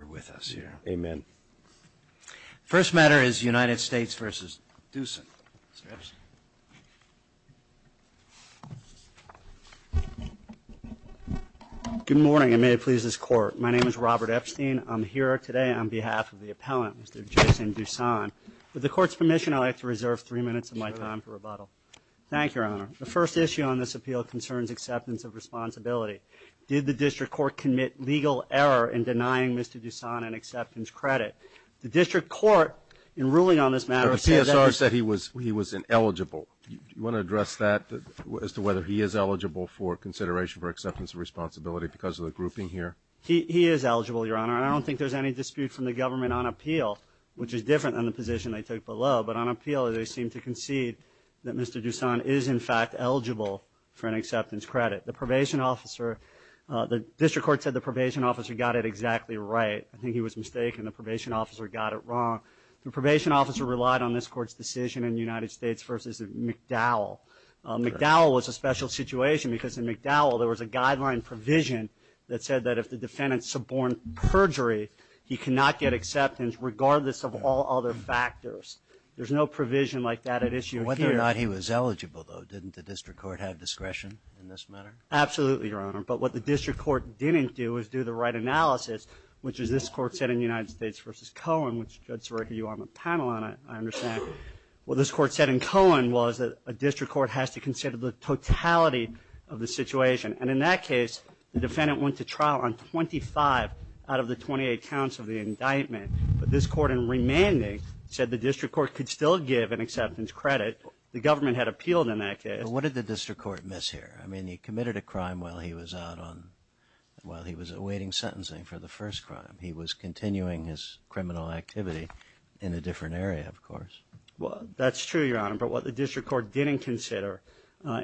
We're with us here. Amen. First matter is United States v. Dussan. Good morning and may it please this Court. My name is Robert Epstein. I'm here today on behalf of the appellant, Mr. Jason Dussan. With the Court's permission, I'd like to reserve three minutes of my time for rebuttal. Thank you, Your Honor. The first issue on this appeal concerns acceptance of responsibility. Did the district court commit legal error in denying Mr. Dussan an acceptance credit? The district court, in ruling on this matter, said that he The TSR said he was ineligible. Do you want to address that as to whether he is eligible for consideration for acceptance of responsibility because of the grouping here? He is eligible, Your Honor, and I don't think there's any dispute from the government on appeal, which is different than the position they took below, but on appeal they seem to concede that Mr. Dussan is, in fact, eligible for an acceptance credit. The probation officer, the district court said the probation officer got it exactly right. I think he was mistaken. The probation officer got it wrong. The probation officer relied on this Court's decision in the United States versus McDowell. McDowell was a special situation because in McDowell there was a guideline provision that said that if the defendant suborned perjury, he cannot get acceptance regardless of all other factors. There's no provision like that at issue here. If not, he was eligible, though. Didn't the district court have discretion in this matter? Absolutely, Your Honor. But what the district court didn't do was do the right analysis, which is this Court said in United States versus Cohen, which, Judge Sareka, you are on the panel on it, I understand. What this Court said in Cohen was that a district court has to consider the totality of the situation, and in that case the defendant went to trial on 25 out of the 28 counts of the indictment. But this Court, in remanding, said the district court could still give an acceptance credit. The government had appealed in that case. But what did the district court miss here? I mean, he committed a crime while he was out on, while he was awaiting sentencing for the first crime. He was continuing his criminal activity in a different area, of course. Well, that's true, Your Honor. But what the district court didn't consider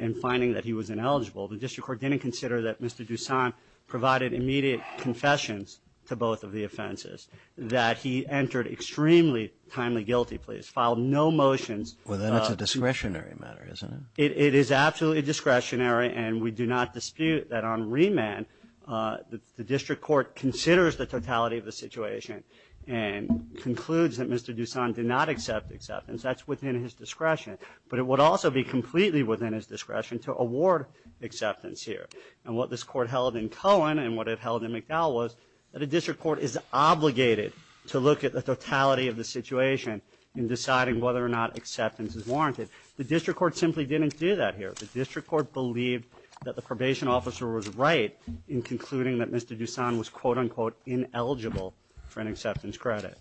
in finding that he was ineligible, the district court didn't consider that Mr. Dusan provided immediate confessions to both of the offenses, that he entered extremely timely guilty pleas, filed no motions. Well, then it's a discretionary matter, isn't it? It is absolutely discretionary, and we do not dispute that on remand, the district court considers the totality of the situation and concludes that Mr. Dusan did not accept acceptance. That's within his discretion. But it would also be completely within his discretion to award acceptance here. And what this court held in Cohen and what it held in McDowell was that a district court is obligated to look at the totality of the situation in deciding whether or not acceptance is warranted. The district court simply didn't do that here. The district court believed that the probation officer was right in concluding that Mr. Dusan was, quote, unquote, ineligible for an acceptance credit.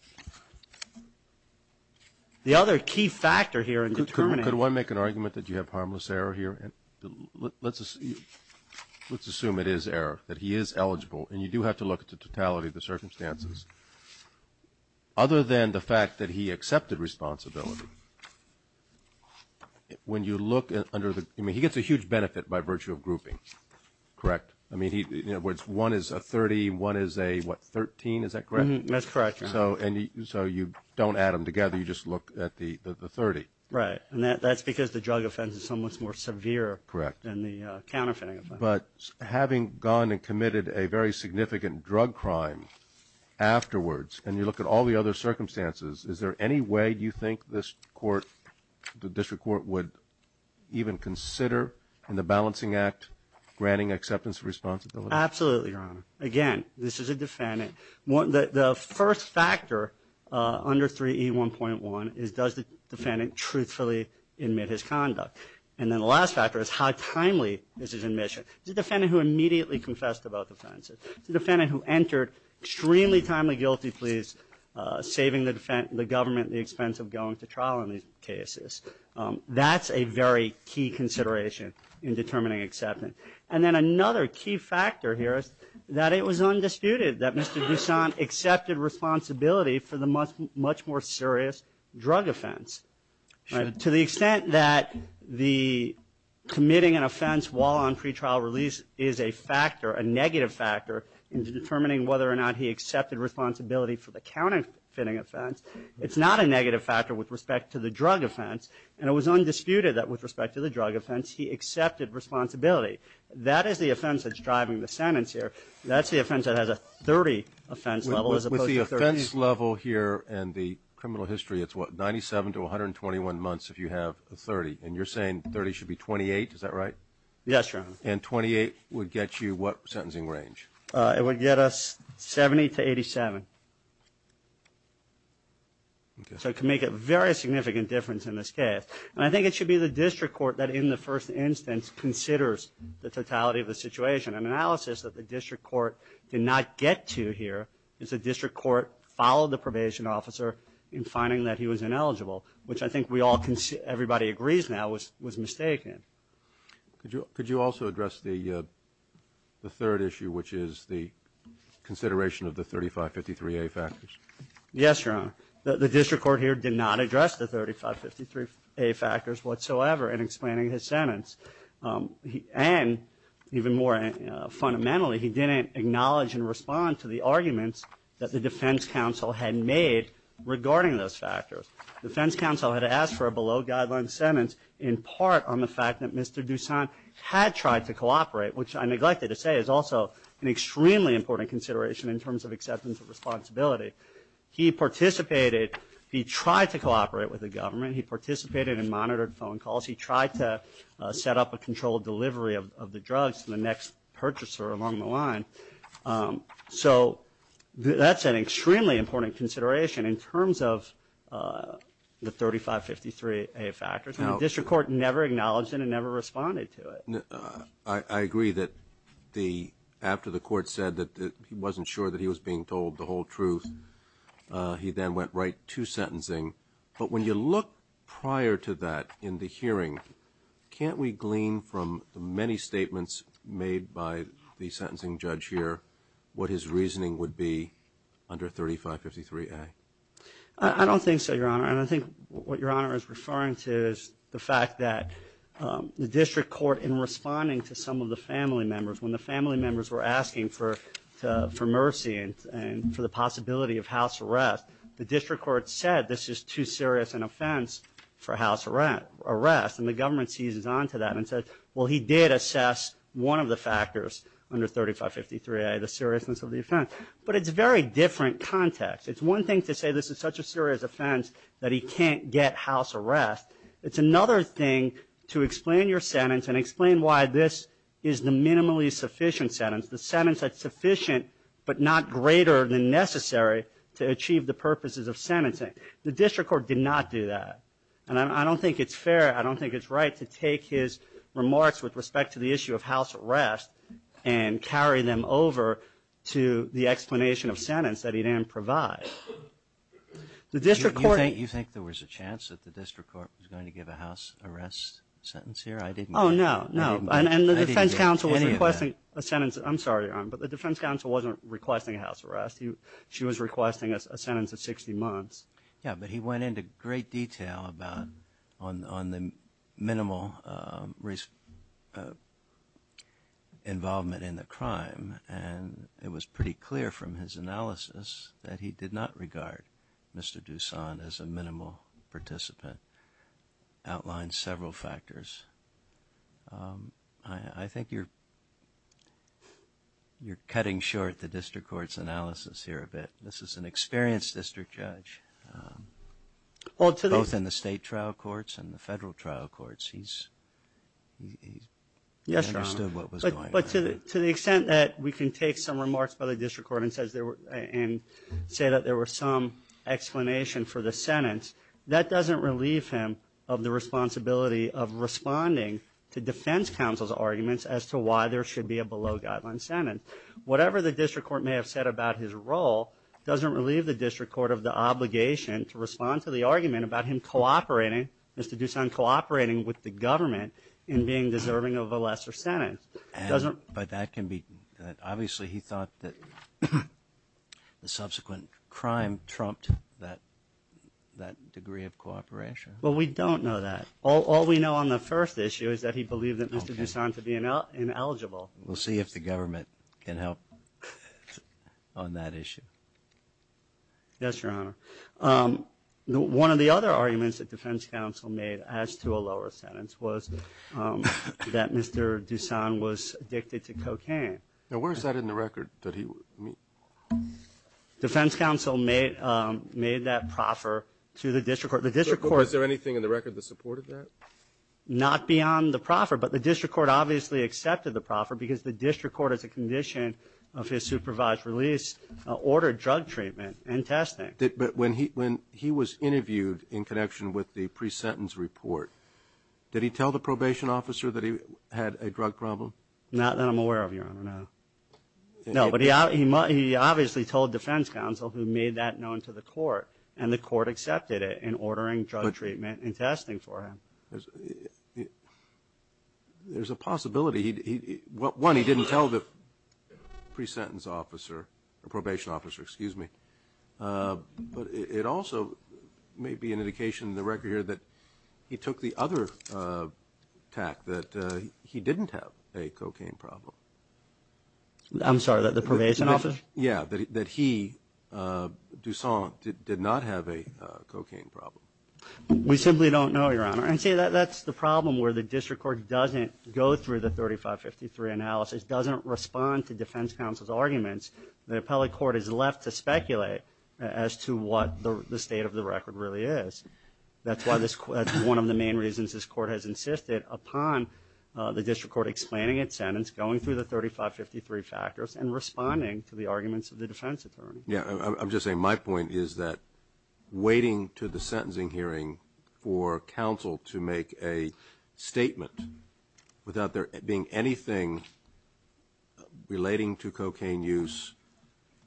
The other key factor here in determining. Could one make an argument that you have harmless error here? Let's assume it is error, that he is eligible, and you do have to look at the totality of the circumstances. Other than the fact that he accepted responsibility, when you look under the... I mean, he gets a huge benefit by virtue of grouping, correct? I mean, one is a 30, one is a, what, 13, is that correct? That's correct. So you don't add them together, you just look at the 30. Right, and that's because the drug offense is somewhat more severe. Correct. Than the counterfeiting offense. But having gone and committed a very significant drug crime afterwards, and you look at all the other circumstances, is there any way you think this court, the district court, would even consider in the balancing act granting acceptance of responsibility? Absolutely, Your Honor. Again, this is a defendant. The first factor under 3E1.1 is does the defendant truthfully admit his conduct? And then the last factor is how timely is his admission? Is it a defendant who immediately confessed to both offenses? Is it a defendant who entered extremely timely guilty pleas, saving the government the expense of going to trial in these cases? That's a very key consideration in determining acceptance. And then another key factor here is that it was undisputed that Mr. Goussaint accepted responsibility for the much more serious drug offense. To the extent that the committing an offense while on pretrial release is a factor, a negative factor in determining whether or not he accepted responsibility for the counterfeiting offense, it's not a negative factor with respect to the drug offense, and it was undisputed that with respect to the drug offense, he accepted responsibility. That is the offense that's driving the sentence here. That's the offense that has a 30 offense level as opposed to 30. With the offense level here and the criminal history, it's what, 97 to 121 months if you have a 30? And you're saying 30 should be 28, is that right? Yes, Your Honor. And 28 would get you what sentencing range? It would get us 70 to 87. So it can make a very significant difference in this case. And I think it should be the district court that, in the first instance, considers the totality of the situation. An analysis that the district court did not get to here is the district court followed the probation officer in finding that he was ineligible, which I think everybody agrees now was mistaken. Could you also address the third issue, which is the consideration of the 3553A factors? Yes, Your Honor. The district court here did not address the 3553A factors whatsoever in explaining his sentence. And even more fundamentally, he didn't acknowledge and respond to the arguments that the defense counsel had made regarding those factors. The defense counsel had asked for a below-guidelines sentence in part on the fact that Mr. Dusant had tried to cooperate, which I neglected to say is also an extremely important consideration in terms of acceptance of responsibility. He participated. He tried to cooperate with the government. He participated in monitored phone calls. He tried to set up a controlled delivery of the drugs to the next purchaser along the line. So that's an extremely important consideration in terms of the 3553A factors. And the district court never acknowledged it and never responded to it. I agree that after the court said that he wasn't sure that he was being told the whole truth, he then went right to sentencing. But when you look prior to that in the hearing, can't we glean from the many statements made by the sentencing judge here what his reasoning would be under 3553A? I don't think so, Your Honor. And I think what Your Honor is referring to is the fact that the district court, in responding to some of the family members, when the family members were asking for mercy and for the possibility of house arrest, the district court said this is too serious an offense for house arrest. And the government seizes onto that and says, well he did assess one of the factors under 3553A, the seriousness of the offense. But it's a very different context. It's one thing to say this is such a serious offense that he can't get house arrest. It's another thing to explain your sentence and explain why this is the minimally sufficient sentence, the sentence that's sufficient but not greater than necessary to achieve the purposes of sentencing. The district court did not do that. And I don't think it's fair, I don't think it's right to take his remarks with respect to the issue of house arrest and carry them over to the explanation of sentence that he didn't provide. Do you think there was a chance that the district court was going to give a house arrest sentence here? Oh, no, no. And the defense counsel was requesting a sentence. I'm sorry, but the defense counsel wasn't requesting a house arrest. She was requesting a sentence of 60 months. Yeah, but he went into great detail on the minimal involvement in the crime and it was pretty clear from his analysis that he did not regard Mr. Dusant as a minimal participant. He outlined several factors. I think you're cutting short the district court's analysis here a bit. This is an experienced district judge, both in the state trial courts and the federal trial courts. He understood what was going on. But to the extent that we can take some remarks by the district court and say that there was some explanation for the sentence, that doesn't relieve him of the responsibility of responding to defense counsel's arguments as to why there should be a below-guideline sentence. Whatever the district court may have said about his role doesn't relieve the district court of the obligation to respond to the argument about him cooperating, Mr. Dusant cooperating with the government in being deserving of a lesser sentence. But obviously he thought that the subsequent crime trumped that degree of cooperation. Well, we don't know that. All we know on the first issue is that he believed that Mr. Dusant to be ineligible. We'll see if the government can help on that issue. Yes, Your Honor. One of the other arguments that defense counsel made as to a lower sentence was that Mr. Dusant was addicted to cocaine. Now, where is that in the record? Defense counsel made that proffer to the district court. Was there anything in the record that supported that? Not beyond the proffer. But the district court obviously accepted the proffer because the district court, as a condition of his supervised release, ordered drug treatment and testing. But when he was interviewed in connection with the pre-sentence report, did he tell the probation officer that he had a drug problem? Not that I'm aware of, Your Honor, no. No, but he obviously told defense counsel, who made that known to the court, and the court accepted it in ordering drug treatment and testing for him. There's a possibility. One, he didn't tell the pre-sentence officer, or probation officer, excuse me. But it also may be an indication in the record here that he took the other tact, that he didn't have a cocaine problem. I'm sorry, that the probation officer? Yeah, that he, Dusant, did not have a cocaine problem. We simply don't know, Your Honor. And see, that's the problem where the district court doesn't go through the 3553 analysis, doesn't respond to defense counsel's arguments. The appellate court is left to speculate as to what the state of the record really is. That's one of the main reasons this court has insisted upon the district court explaining its sentence, going through the 3553 factors, and responding to the arguments of the defense attorney. Yeah, I'm just saying my point is that waiting to the sentencing hearing for counsel to make a statement without there being anything relating to cocaine use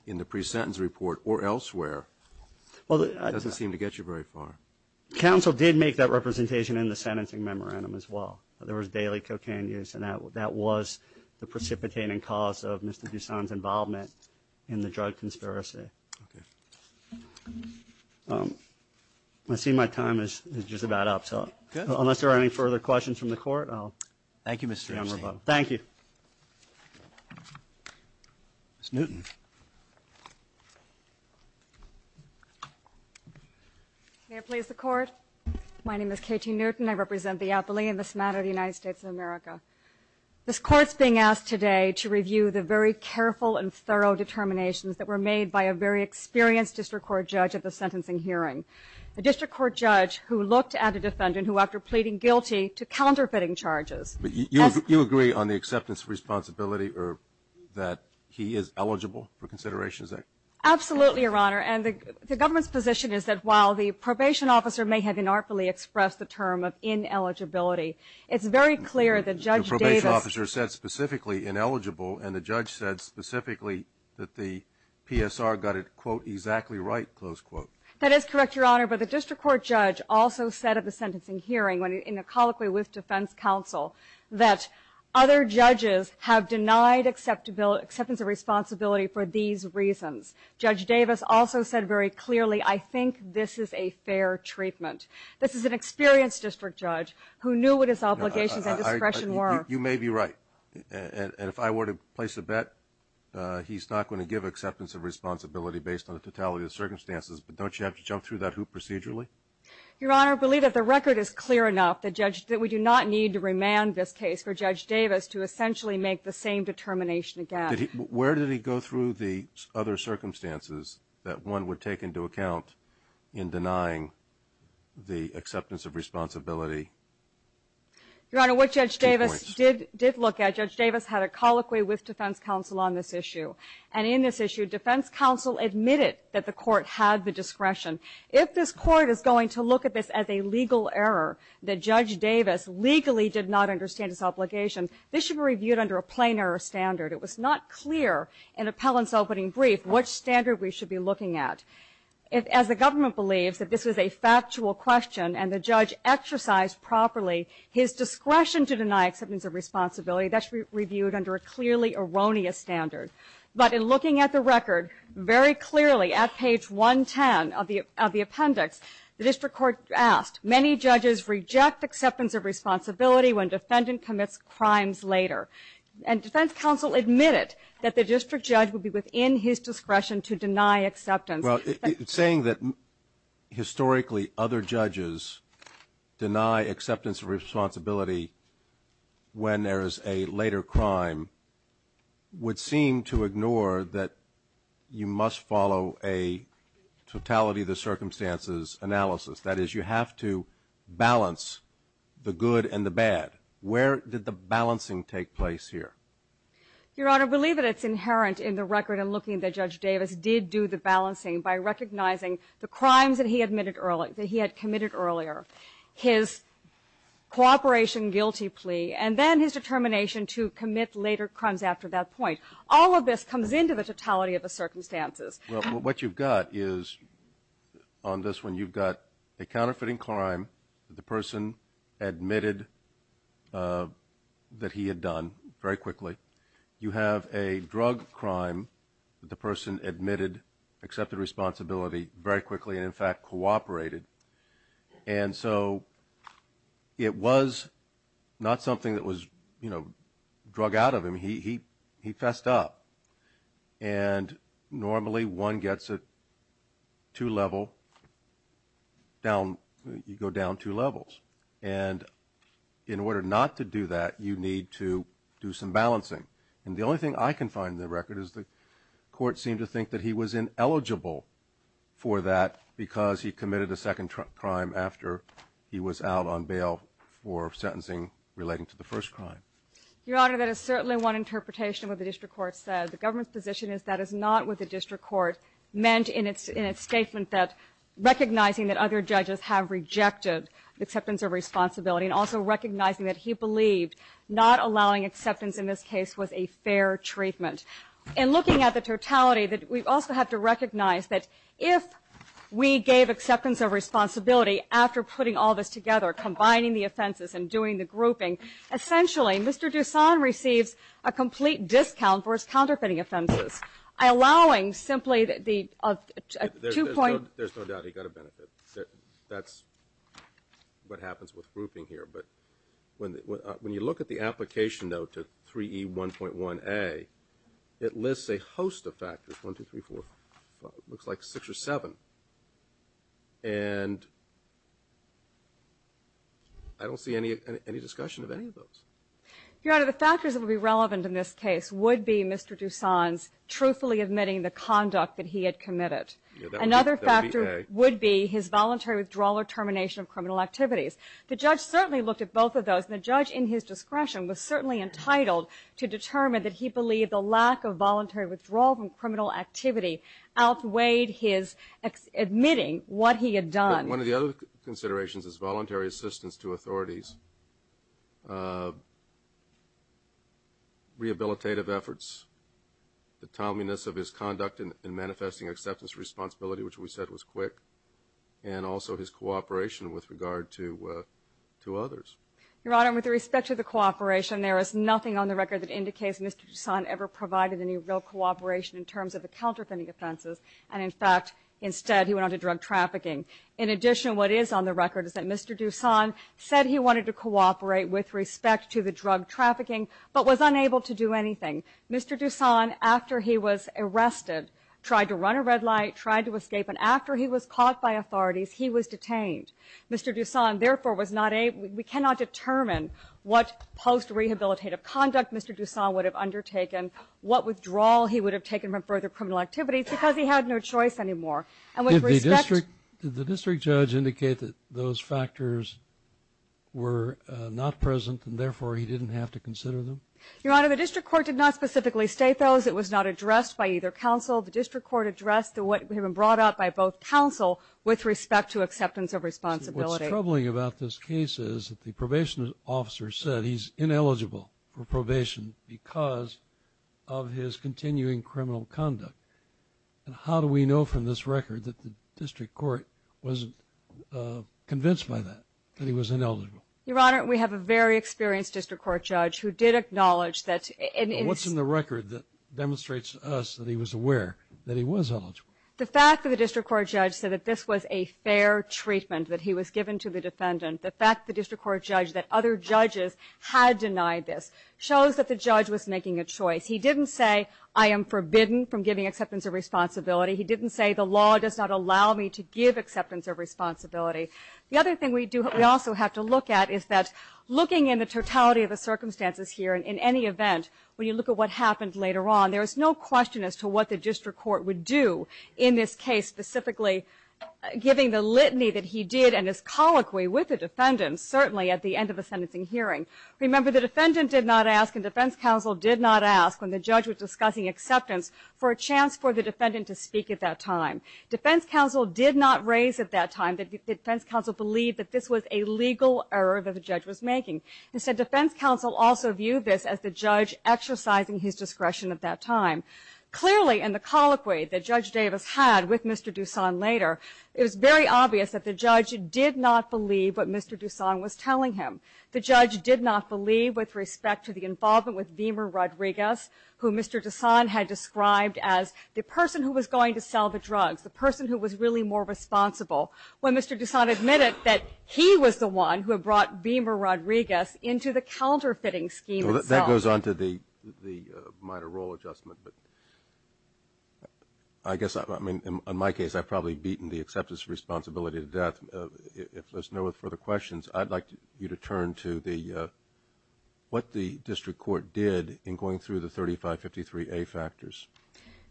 in the pre-sentence report or elsewhere doesn't seem to get you very far. Counsel did make that representation in the sentencing memorandum as well. There was daily cocaine use, and that was the precipitating cause of Mr. Dusant's involvement in the drug conspiracy. Okay. I see my time is just about up. Unless there are any further questions from the court, I'll hand them over. Thank you, Mr. Gerstin. Thank you. Ms. Newton. May it please the Court? My name is Katie Newton. I represent the Appellee in this matter of the United States of America. This Court is being asked today to review the very careful and thorough determinations that were made by a very experienced district court judge at the sentencing hearing, a district court judge who looked at a defendant who, after pleading guilty to counterfeiting charges, has ---- You agree on the acceptance of responsibility or that he is eligible for considerations there? Absolutely, Your Honor. And the government's position is that while the probation officer may have inartfully expressed the term of ineligibility, it's very clear that Judge Davis ---- The probation officer said specifically ineligible, and the judge said specifically that the PSR got it, quote, exactly right, close quote. That is correct, Your Honor. But the district court judge also said at the sentencing hearing, in a colloquy with defense counsel, that other judges have denied acceptance of responsibility for these reasons. Judge Davis also said very clearly, I think this is a fair treatment. This is an experienced district judge who knew what his obligations and discretion were. You may be right. And if I were to place a bet, he's not going to give acceptance of responsibility based on the totality of the circumstances, but don't you have to jump through that hoop procedurally? Your Honor, I believe that the record is clear enough that we do not need to remand this case for Judge Davis to essentially make the same determination again. Where did he go through the other circumstances that one would take into account in denying the acceptance of responsibility? Your Honor, what Judge Davis did look at, Judge Davis had a colloquy with defense counsel on this issue. And in this issue, defense counsel admitted that the court had the discretion. If this court is going to look at this as a legal error, that Judge Davis legally did not understand his obligation, this should be reviewed under a plain error standard. It was not clear in appellant's opening brief which standard we should be looking at. As the government believes that this is a factual question, and the judge exercised properly his discretion to deny acceptance of responsibility, that should be reviewed under a clearly erroneous standard. But in looking at the record, very clearly at page 110 of the appendix, the district court asked, many judges reject acceptance of responsibility when defendant commits crimes later. And defense counsel admitted that the district judge would be within his discretion to deny acceptance. Well, saying that historically other judges deny acceptance of responsibility when there is a later crime would seem to ignore that you must follow a totality of the circumstances analysis. That is, you have to balance the good and the bad. Where did the balancing take place here? Your Honor, believe it, it's inherent in the record in looking that Judge Davis did do the balancing by recognizing the crimes that he admitted earlier, that he had committed earlier, his cooperation guilty plea, and then his determination to commit later crimes after that point. All of this comes into the totality of the circumstances. Well, what you've got is, on this one, you've got a counterfeiting crime that the person admitted that he had done very quickly. You have a drug crime that the person admitted accepted responsibility very quickly and, in fact, cooperated. And so it was not something that was, you know, drug out of him. He fessed up. And normally one gets a two-level down. You go down two levels. And in order not to do that, you need to do some balancing. And the only thing I can find in the record is the court seemed to think that he was ineligible for that because he committed a second crime after he was out on bail for sentencing relating to the first crime. Your Honor, that is certainly one interpretation of what the district court said. The government's position is that is not what the district court meant in its statement that recognizing that other judges have rejected acceptance of responsibility and also recognizing that he believed not allowing acceptance in this case was a fair treatment. And looking at the totality, we also have to recognize that if we gave acceptance of responsibility after putting all this together, combining the offenses and doing the grouping, essentially Mr. Dusan receives a complete discount for his counterfeiting offenses, allowing simply the two-point. There's no doubt he got a benefit. That's what happens with grouping here. But when you look at the application, though, to 3E1.1A, it lists a host of factors, 1, 2, 3, 4, 5, it looks like 6 or 7. And I don't see any discussion of any of those. Your Honor, the factors that would be relevant in this case would be Mr. Dusan's truthfully admitting the conduct that he had committed. Another factor would be his voluntary withdrawal or termination of criminal activities. The judge certainly looked at both of those, and the judge, in his discretion, was certainly entitled to determine that he believed the lack of voluntary withdrawal from criminal activity outweighed his admitting what he had done. One of the other considerations is voluntary assistance to authorities, rehabilitative efforts, the timeliness of his conduct in manifesting acceptance of responsibility, which we said was quick, and also his cooperation with regard to others. Your Honor, with respect to the cooperation, there is nothing on the record that indicates Mr. Dusan ever provided any real cooperation in terms of the counterfeiting offenses. And, in fact, instead he went on to drug trafficking. In addition, what is on the record is that Mr. Dusan said he wanted to cooperate with respect to the drug trafficking but was unable to do anything. Mr. Dusan, after he was arrested, tried to run a red light, tried to escape, and after he was caught by authorities, he was detained. Mr. Dusan, therefore, was not able to determine what post-rehabilitative conduct Mr. Dusan would have undertaken, what withdrawal he would have taken from further criminal activity because he had no choice anymore. Did the district judge indicate that those factors were not present and, therefore, he didn't have to consider them? Your Honor, the district court did not specifically state those. It was not addressed by either counsel. The district court addressed what had been brought up by both counsel with respect to acceptance of responsibility. What's troubling about this case is that the probation officer said he's ineligible for probation because of his continuing criminal conduct. And how do we know from this record that the district court wasn't convinced by that, that he was ineligible? Your Honor, we have a very experienced district court judge who did acknowledge that. What's in the record that demonstrates to us that he was aware that he was eligible? The fact that the district court judge said that this was a fair treatment that he was given to the defendant, the fact that the district court judge, that other judges had denied this, shows that the judge was making a choice. He didn't say, I am forbidden from giving acceptance of responsibility. He didn't say the law does not allow me to give acceptance of responsibility. The other thing we do, we also have to look at, is that looking in the totality of the circumstances here, in any event, when you look at what happened later on, there is no question as to what the district court would do in this case, specifically giving the litany that he did and his colloquy with the defendant, certainly at the end of a sentencing hearing. Remember, the defendant did not ask, and defense counsel did not ask, when the judge was discussing acceptance, for a chance for the defendant to speak at that time. Defense counsel did not raise at that time that defense counsel believed that this was a legal error that the judge was making. Instead, defense counsel also viewed this as the judge exercising his discretion at that time. Clearly, in the colloquy that Judge Davis had with Mr. Dusan later, it was very obvious that the judge did not believe what Mr. Dusan was telling him. The judge did not believe with respect to the involvement with Beamer Rodriguez, who Mr. Dusan had described as the person who was going to sell the drugs, the person who was really more responsible. When Mr. Dusan admitted that he was the one who had brought Beamer Rodriguez into the counterfeiting scheme itself. Well, that goes on to the minor role adjustment. But I guess, I mean, in my case, I've probably beaten the acceptance responsibility to death. If there's no further questions, I'd like you to turn to the what the district court did in going through the 3553A factors.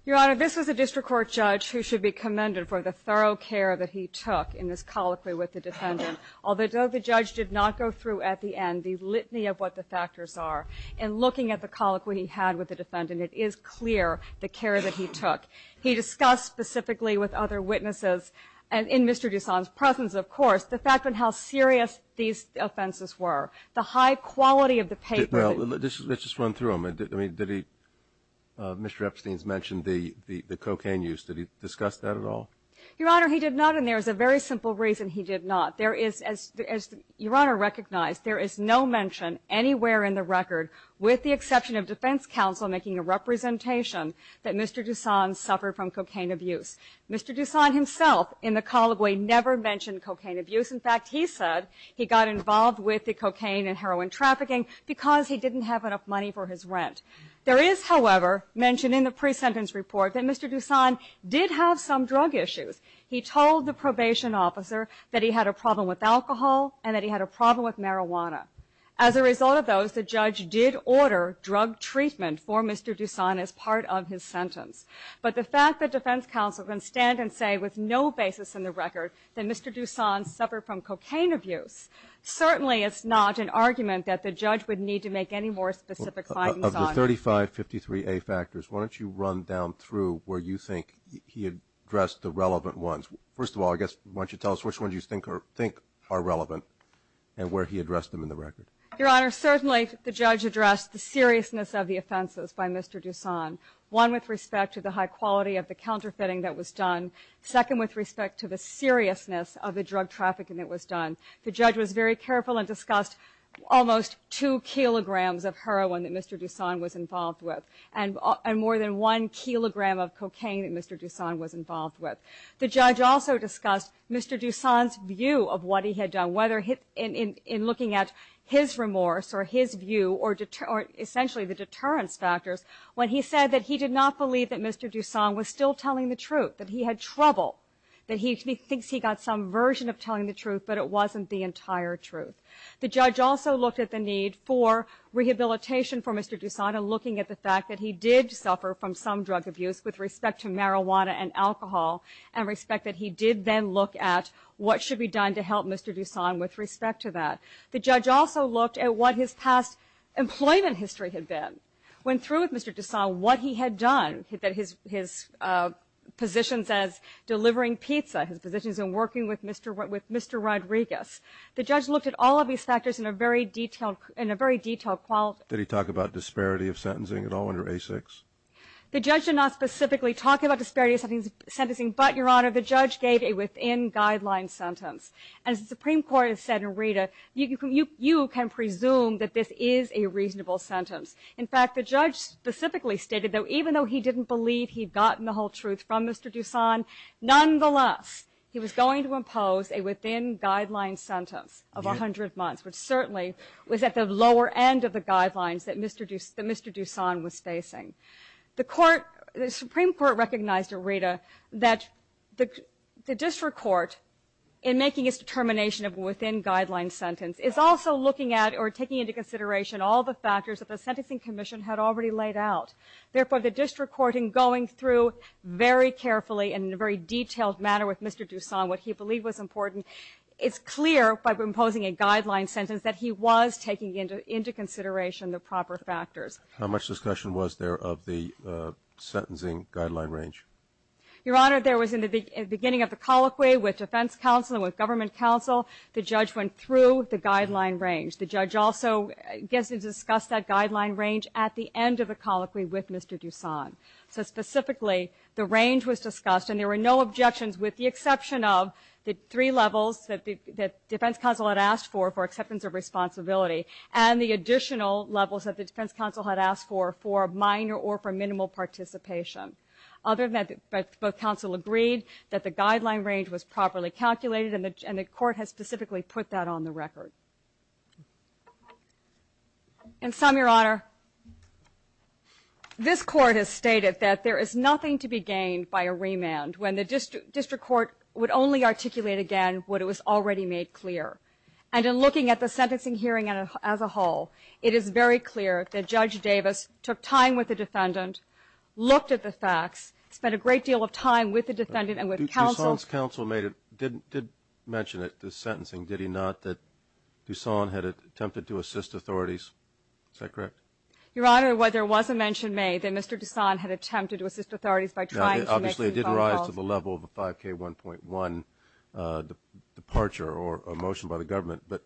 Your Honor, this was a district court judge who should be commended for the thorough care that he took in this colloquy with the defendant. Although the judge did not go through at the end the litany of what the factors are, in looking at the colloquy he had with the defendant, it is clear the care that he took. He discussed specifically with other witnesses, and in Mr. Dusan's presence, of course, the fact of how serious these offenses were, the high quality of the paper that he used. Well, let's just run through them. I mean, did he, Mr. Epstein's mentioned the cocaine use. Did he discuss that at all? Your Honor, he did not, and there is a very simple reason he did not. There is, as Your Honor recognized, there is no mention anywhere in the record, with the exception of defense counsel making a representation, that Mr. Dusan suffered from cocaine abuse. Mr. Dusan himself, in the colloquy, never mentioned cocaine abuse. In fact, he said he got involved with the cocaine and heroin trafficking because he didn't have enough money for his rent. There is, however, mentioned in the pre-sentence report that Mr. Dusan did have some drug issues. He told the probation officer that he had a problem with alcohol and that he had a problem with marijuana. As a result of those, the judge did order drug treatment for Mr. Dusan as part of his sentence. But the fact that defense counsel can stand and say with no basis in the record that Mr. Dusan suffered from cocaine abuse, certainly it's not an argument that the judge would need to make any more specific findings on. Of the 3553A factors, why don't you run down through where you think he addressed the relevant ones. First of all, I guess why don't you tell us which ones you think are relevant and where he addressed them in the record. Your Honor, certainly the judge addressed the seriousness of the offenses by Mr. Dusan, one with respect to the high quality of the counterfeiting that was done, second with respect to the seriousness of the drug trafficking that was done. The judge was very careful and discussed almost two kilograms of heroin that Mr. Dusan was involved with and more than one kilogram of cocaine that Mr. Dusan was involved with. The judge also discussed Mr. Dusan's view of what he had done, whether in looking at his remorse or his view or essentially the deterrence factors when he said that he did not believe that Mr. Dusan was still telling the truth, that he had trouble, that he thinks he got some version of telling the truth but it wasn't the entire truth. The judge also looked at the need for rehabilitation for Mr. Dusan looking at the fact that he did suffer from some drug abuse with respect to marijuana and alcohol and respect that he did then look at what should be done to help Mr. Dusan with respect to that. The judge also looked at what his past employment history had been, went through with Mr. Dusan what he had done, his positions as delivering pizza, his positions in working with Mr. Rodriguez. The judge looked at all of these factors in a very detailed quality. Did he talk about disparity of sentencing at all under A6? The judge did not specifically talk about disparity of sentencing, but, Your Honor, the judge gave a within-guideline sentence. As the Supreme Court has said in Rita, you can presume that this is a reasonable sentence. In fact, the judge specifically stated that even though he didn't believe he'd gotten the whole truth from Mr. Dusan, nonetheless he was going to impose a within-guideline sentence of 100 months, which certainly was at the lower end of the guidelines that Mr. Dusan was facing. The Supreme Court recognized in Rita that the district court, in making its determination of a within-guideline sentence, is also looking at or taking into consideration all the factors that the Sentencing Commission had already laid out. Therefore, the district court, in going through very carefully and in a very detailed manner with Mr. Dusan what he believed was important, it's clear, by imposing a guideline sentence, that he was taking into consideration the proper factors. How much discussion was there of the sentencing guideline range? Your Honor, there was, in the beginning of the colloquy, with defense counsel and with government counsel, the judge went through the guideline range. The judge also discussed that guideline range at the end of the colloquy with Mr. Dusan. So, specifically, the range was discussed, and there were no objections with the exception of the three levels that defense counsel had asked for, for acceptance of responsibility, and the additional levels that the defense counsel had asked for, for minor or for minimal participation. Other than that, both counsel agreed that the guideline range was properly calculated, and the court has specifically put that on the record. And some, Your Honor, this court has stated that there is nothing to be gained by a remand when the district court would only articulate again what it was already made clear. And in looking at the sentencing hearing as a whole, it is very clear that Judge Davis took time with the defendant, looked at the facts, spent a great deal of time with the defendant and with counsel. Dusan's counsel did mention it, the sentencing, did he not, that Dusan had attempted to assist authorities? Is that correct? Your Honor, there was a mention made that Mr. Dusan had attempted to assist authorities by trying to make some phone calls. Now, obviously it did rise to the level of a 5K1.1 departure or a motion by the government, but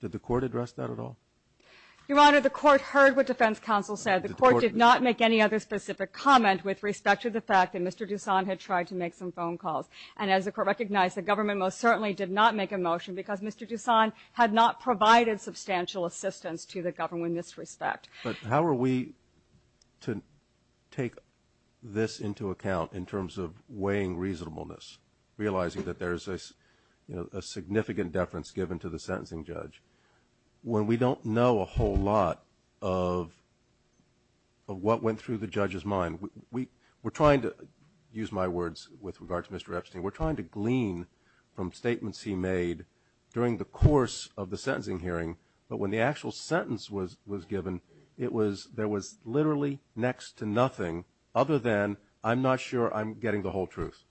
did the court address that at all? Your Honor, the court heard what defense counsel said. The court did not make any other specific comment with respect to the fact that Mr. Dusan had tried to make some phone calls. And as the court recognized, the government most certainly did not make a motion because Mr. Dusan had not provided substantial assistance to the government in this respect. But how are we to take this into account in terms of weighing reasonableness, realizing that there is a significant deference given to the sentencing judge when we don't know a whole lot of what went through the judge's mind? We're trying to, use my words with regard to Mr. Epstein, we're trying to glean from statements he made during the course of the sentencing hearing, but when the actual sentence was given, there was literally next to nothing other than I'm not sure I'm getting the whole truth.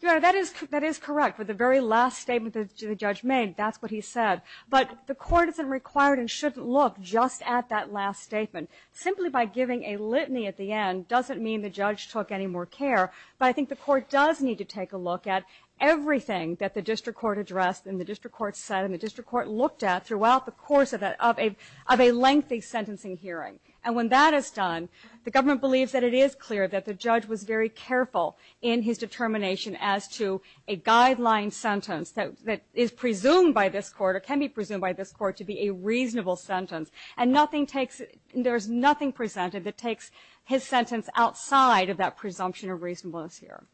Your Honor, that is correct. With the very last statement that the judge made, that's what he said. But the court isn't required and shouldn't look just at that last statement. Simply by giving a litany at the end doesn't mean the judge took any more care, but I think the court does need to take a look at everything that the district court addressed and the district court said and the district court looked at throughout the course of a lengthy sentencing hearing. And when that is done, the government believes that it is clear that the judge was very careful in his determination as to a guideline sentence that is presumed by this court or can be presumed by this court to be a reasonable sentence, and there is nothing presented that takes his sentence outside of that presumption of reasonableness here.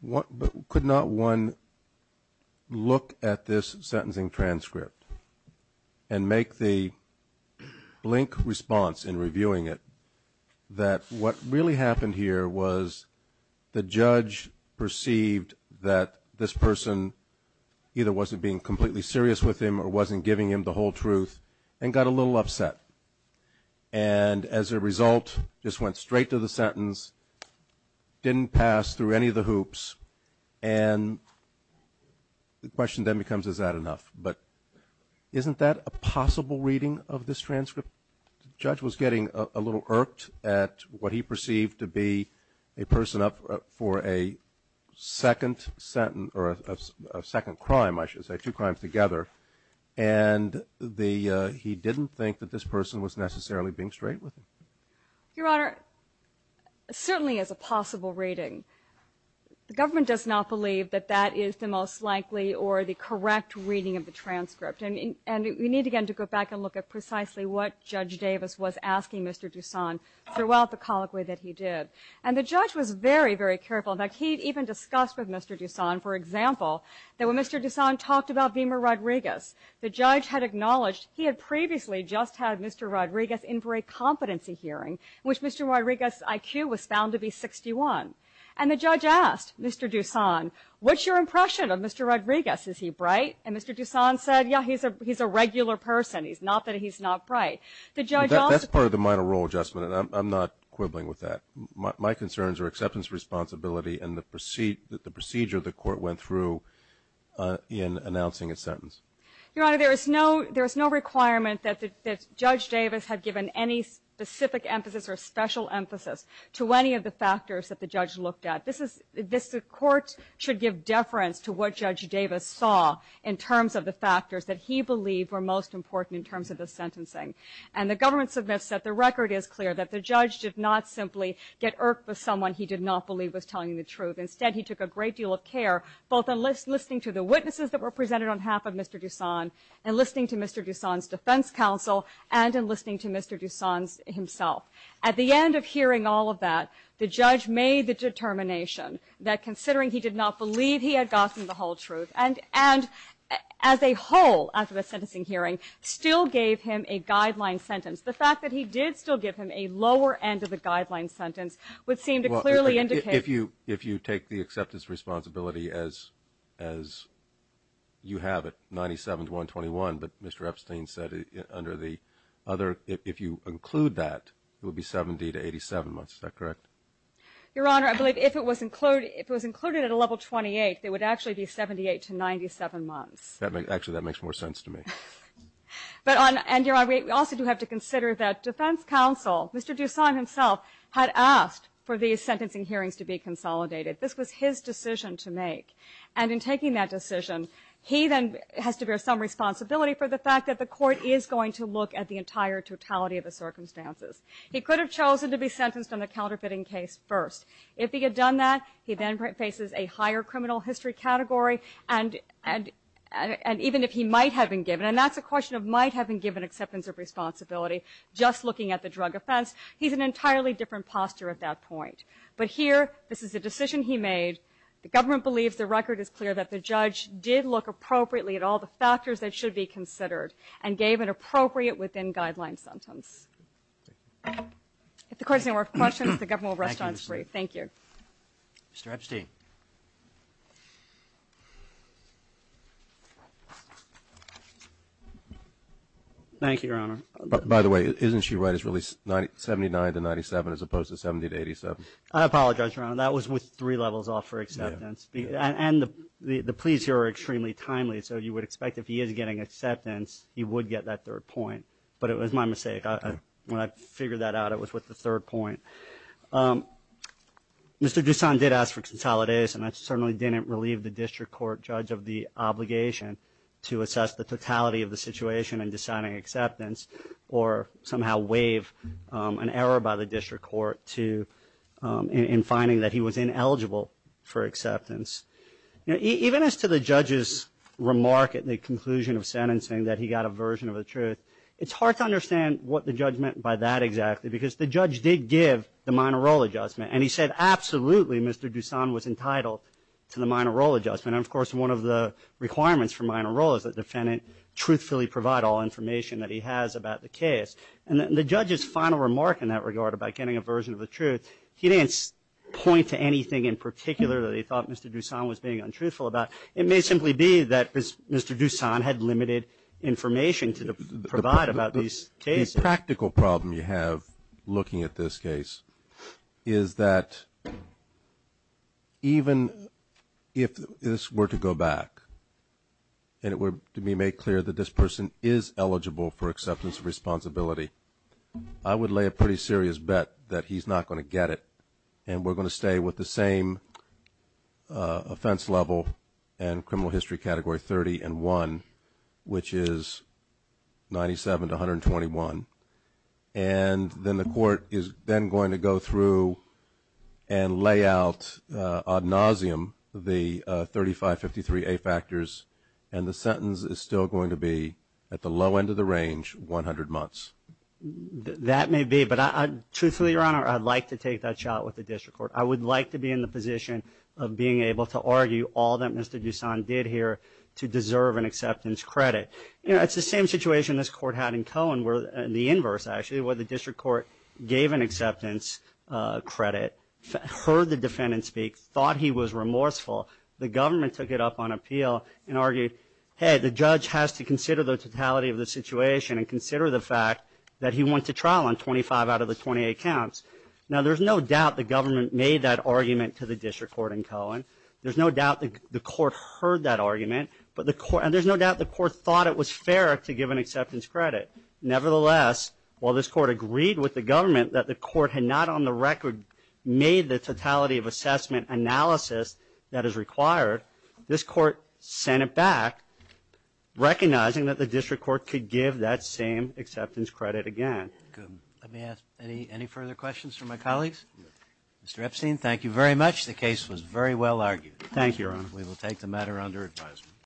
Could not one look at this sentencing transcript and make the blink response in reviewing it that what really happened here was the judge perceived that this person either wasn't being completely serious with him or wasn't giving him the whole truth and got a little upset, and as a result just went straight to the sentence, didn't pass through any of the hoops, and the question then becomes is that enough? But isn't that a possible reading of this transcript? The judge was getting a little irked at what he perceived to be a person up for a second crime, I should say, two crimes together, and he didn't think that this person was necessarily being straight with him. Your Honor, it certainly is a possible reading. The government does not believe that that is the most likely or the correct reading of the transcript, and we need again to go back and look at precisely what Judge Davis was asking Mr. Dusan throughout the colloquy that he did. And the judge was very, very careful. In fact, he even discussed with Mr. Dusan, for example, that when Mr. Dusan talked about Beamer Rodriguez, the judge had acknowledged he had previously just had Mr. Rodriguez in for a competency hearing, in which Mr. Rodriguez's IQ was found to be 61. And the judge asked Mr. Dusan, what's your impression of Mr. Rodriguez? Is he bright? And Mr. Dusan said, yeah, he's a regular person. It's not that he's not bright. That's part of the minor role adjustment, and I'm not quibbling with that. My concerns are acceptance responsibility and the procedure the court went through in announcing a sentence. Your Honor, there is no requirement that Judge Davis had given any specific emphasis or special emphasis to any of the factors that the judge looked at. This court should give deference to what Judge Davis saw in terms of the factors that he believed were most important in terms of the sentencing. And the government submits that the record is clear that the judge did not simply get irked with someone he did not believe was telling the truth. Instead, he took a great deal of care, both in listening to the witnesses that were presented on behalf of Mr. Dusan, in listening to Mr. Dusan's defense counsel, and in listening to Mr. Dusan himself. At the end of hearing all of that, the judge made the determination that, considering he did not believe he had gotten the whole truth, and as a whole after the sentencing hearing, still gave him a guideline sentence. The fact that he did still give him a lower end of the guideline sentence would seem to clearly indicate... If you take the acceptance responsibility as you have it, 97 to 121, but Mr. Epstein said under the other, if you include that, it would be 70 to 87. Is that correct? Your Honor, I believe if it was included at a level 28, it would actually be 78 to 97 months. Actually, that makes more sense to me. And, Your Honor, we also do have to consider that defense counsel, Mr. Dusan himself, had asked for these sentencing hearings to be consolidated. This was his decision to make. And in taking that decision, he then has to bear some responsibility for the fact that the court is going to look at the entire totality of the circumstances. He could have chosen to be sentenced on the counterfeiting case first. If he had done that, he then faces a higher criminal history category, and even if he might have been given, and that's a question of might have been given acceptance of responsibility, just looking at the drug offense, he's in an entirely different posture at that point. But here, this is a decision he made. The government believes the record is clear that the judge did look appropriately at all the factors that should be considered and gave an appropriate within-guideline sentence. If the court has any more questions, the government will respond to you. Thank you. Mr. Epstein. Thank you, Your Honor. By the way, isn't she right? It's really 79 to 97 as opposed to 70 to 87? I apologize, Your Honor. That was with three levels off for acceptance. And the pleas here are extremely timely, so you would expect if he is getting acceptance, he would get that third point. But it was my mistake. When I figured that out, it was with the third point. Mr. Dusan did ask for consolidation. I certainly didn't relieve the district court judge of the obligation to assess the totality of the situation in deciding acceptance or somehow waive an error by the district court in finding that he was ineligible for acceptance. Even as to the judge's remark at the conclusion of sentencing that he got a version of the truth, it's hard to understand what the judge meant by that exactly, because the judge did give the minor role adjustment, and he said absolutely Mr. Dusan was entitled to the minor role adjustment. And, of course, one of the requirements for minor role is that the defendant truthfully provide all information that he has about the case. And the judge's final remark in that regard about getting a version of the truth, he didn't point to anything in particular that he thought Mr. Dusan was being untruthful about. It may simply be that Mr. Dusan had limited information to provide about these cases. The practical problem you have looking at this case is that even if this were to go back and it were to be made clear that this person is eligible for acceptance of responsibility, I would lay a pretty serious bet that he's not going to get it, and we're going to stay with the same offense level and criminal history category 30 and 1, which is 97 to 121. And then the court is then going to go through and lay out ad nauseum the 3553A factors, and the sentence is still going to be at the low end of the range, 100 months. That may be, but truthfully, Your Honor, I'd like to take that shot with the district court. I would like to be in the position of being able to argue all that Mr. Dusan did here to deserve an acceptance credit. You know, it's the same situation this court had in Cohen, the inverse actually, where the district court gave an acceptance credit, heard the defendant speak, thought he was remorseful. The government took it up on appeal and argued, hey, the judge has to consider the totality of the situation and consider the fact that he went to trial on 25 out of the 28 counts. Now, there's no doubt the government made that argument to the district court in Cohen. There's no doubt the court heard that argument, and there's no doubt the court thought it was fair to give an acceptance credit. Nevertheless, while this court agreed with the government that the court had not on the record made the totality of assessment analysis that is required, this court sent it back recognizing that the district court could give that same acceptance credit again. Let me ask any further questions from my colleagues? Mr. Epstein, thank you very much. The case was very well argued. Thank you, Your Honor. We will take the matter under advisement.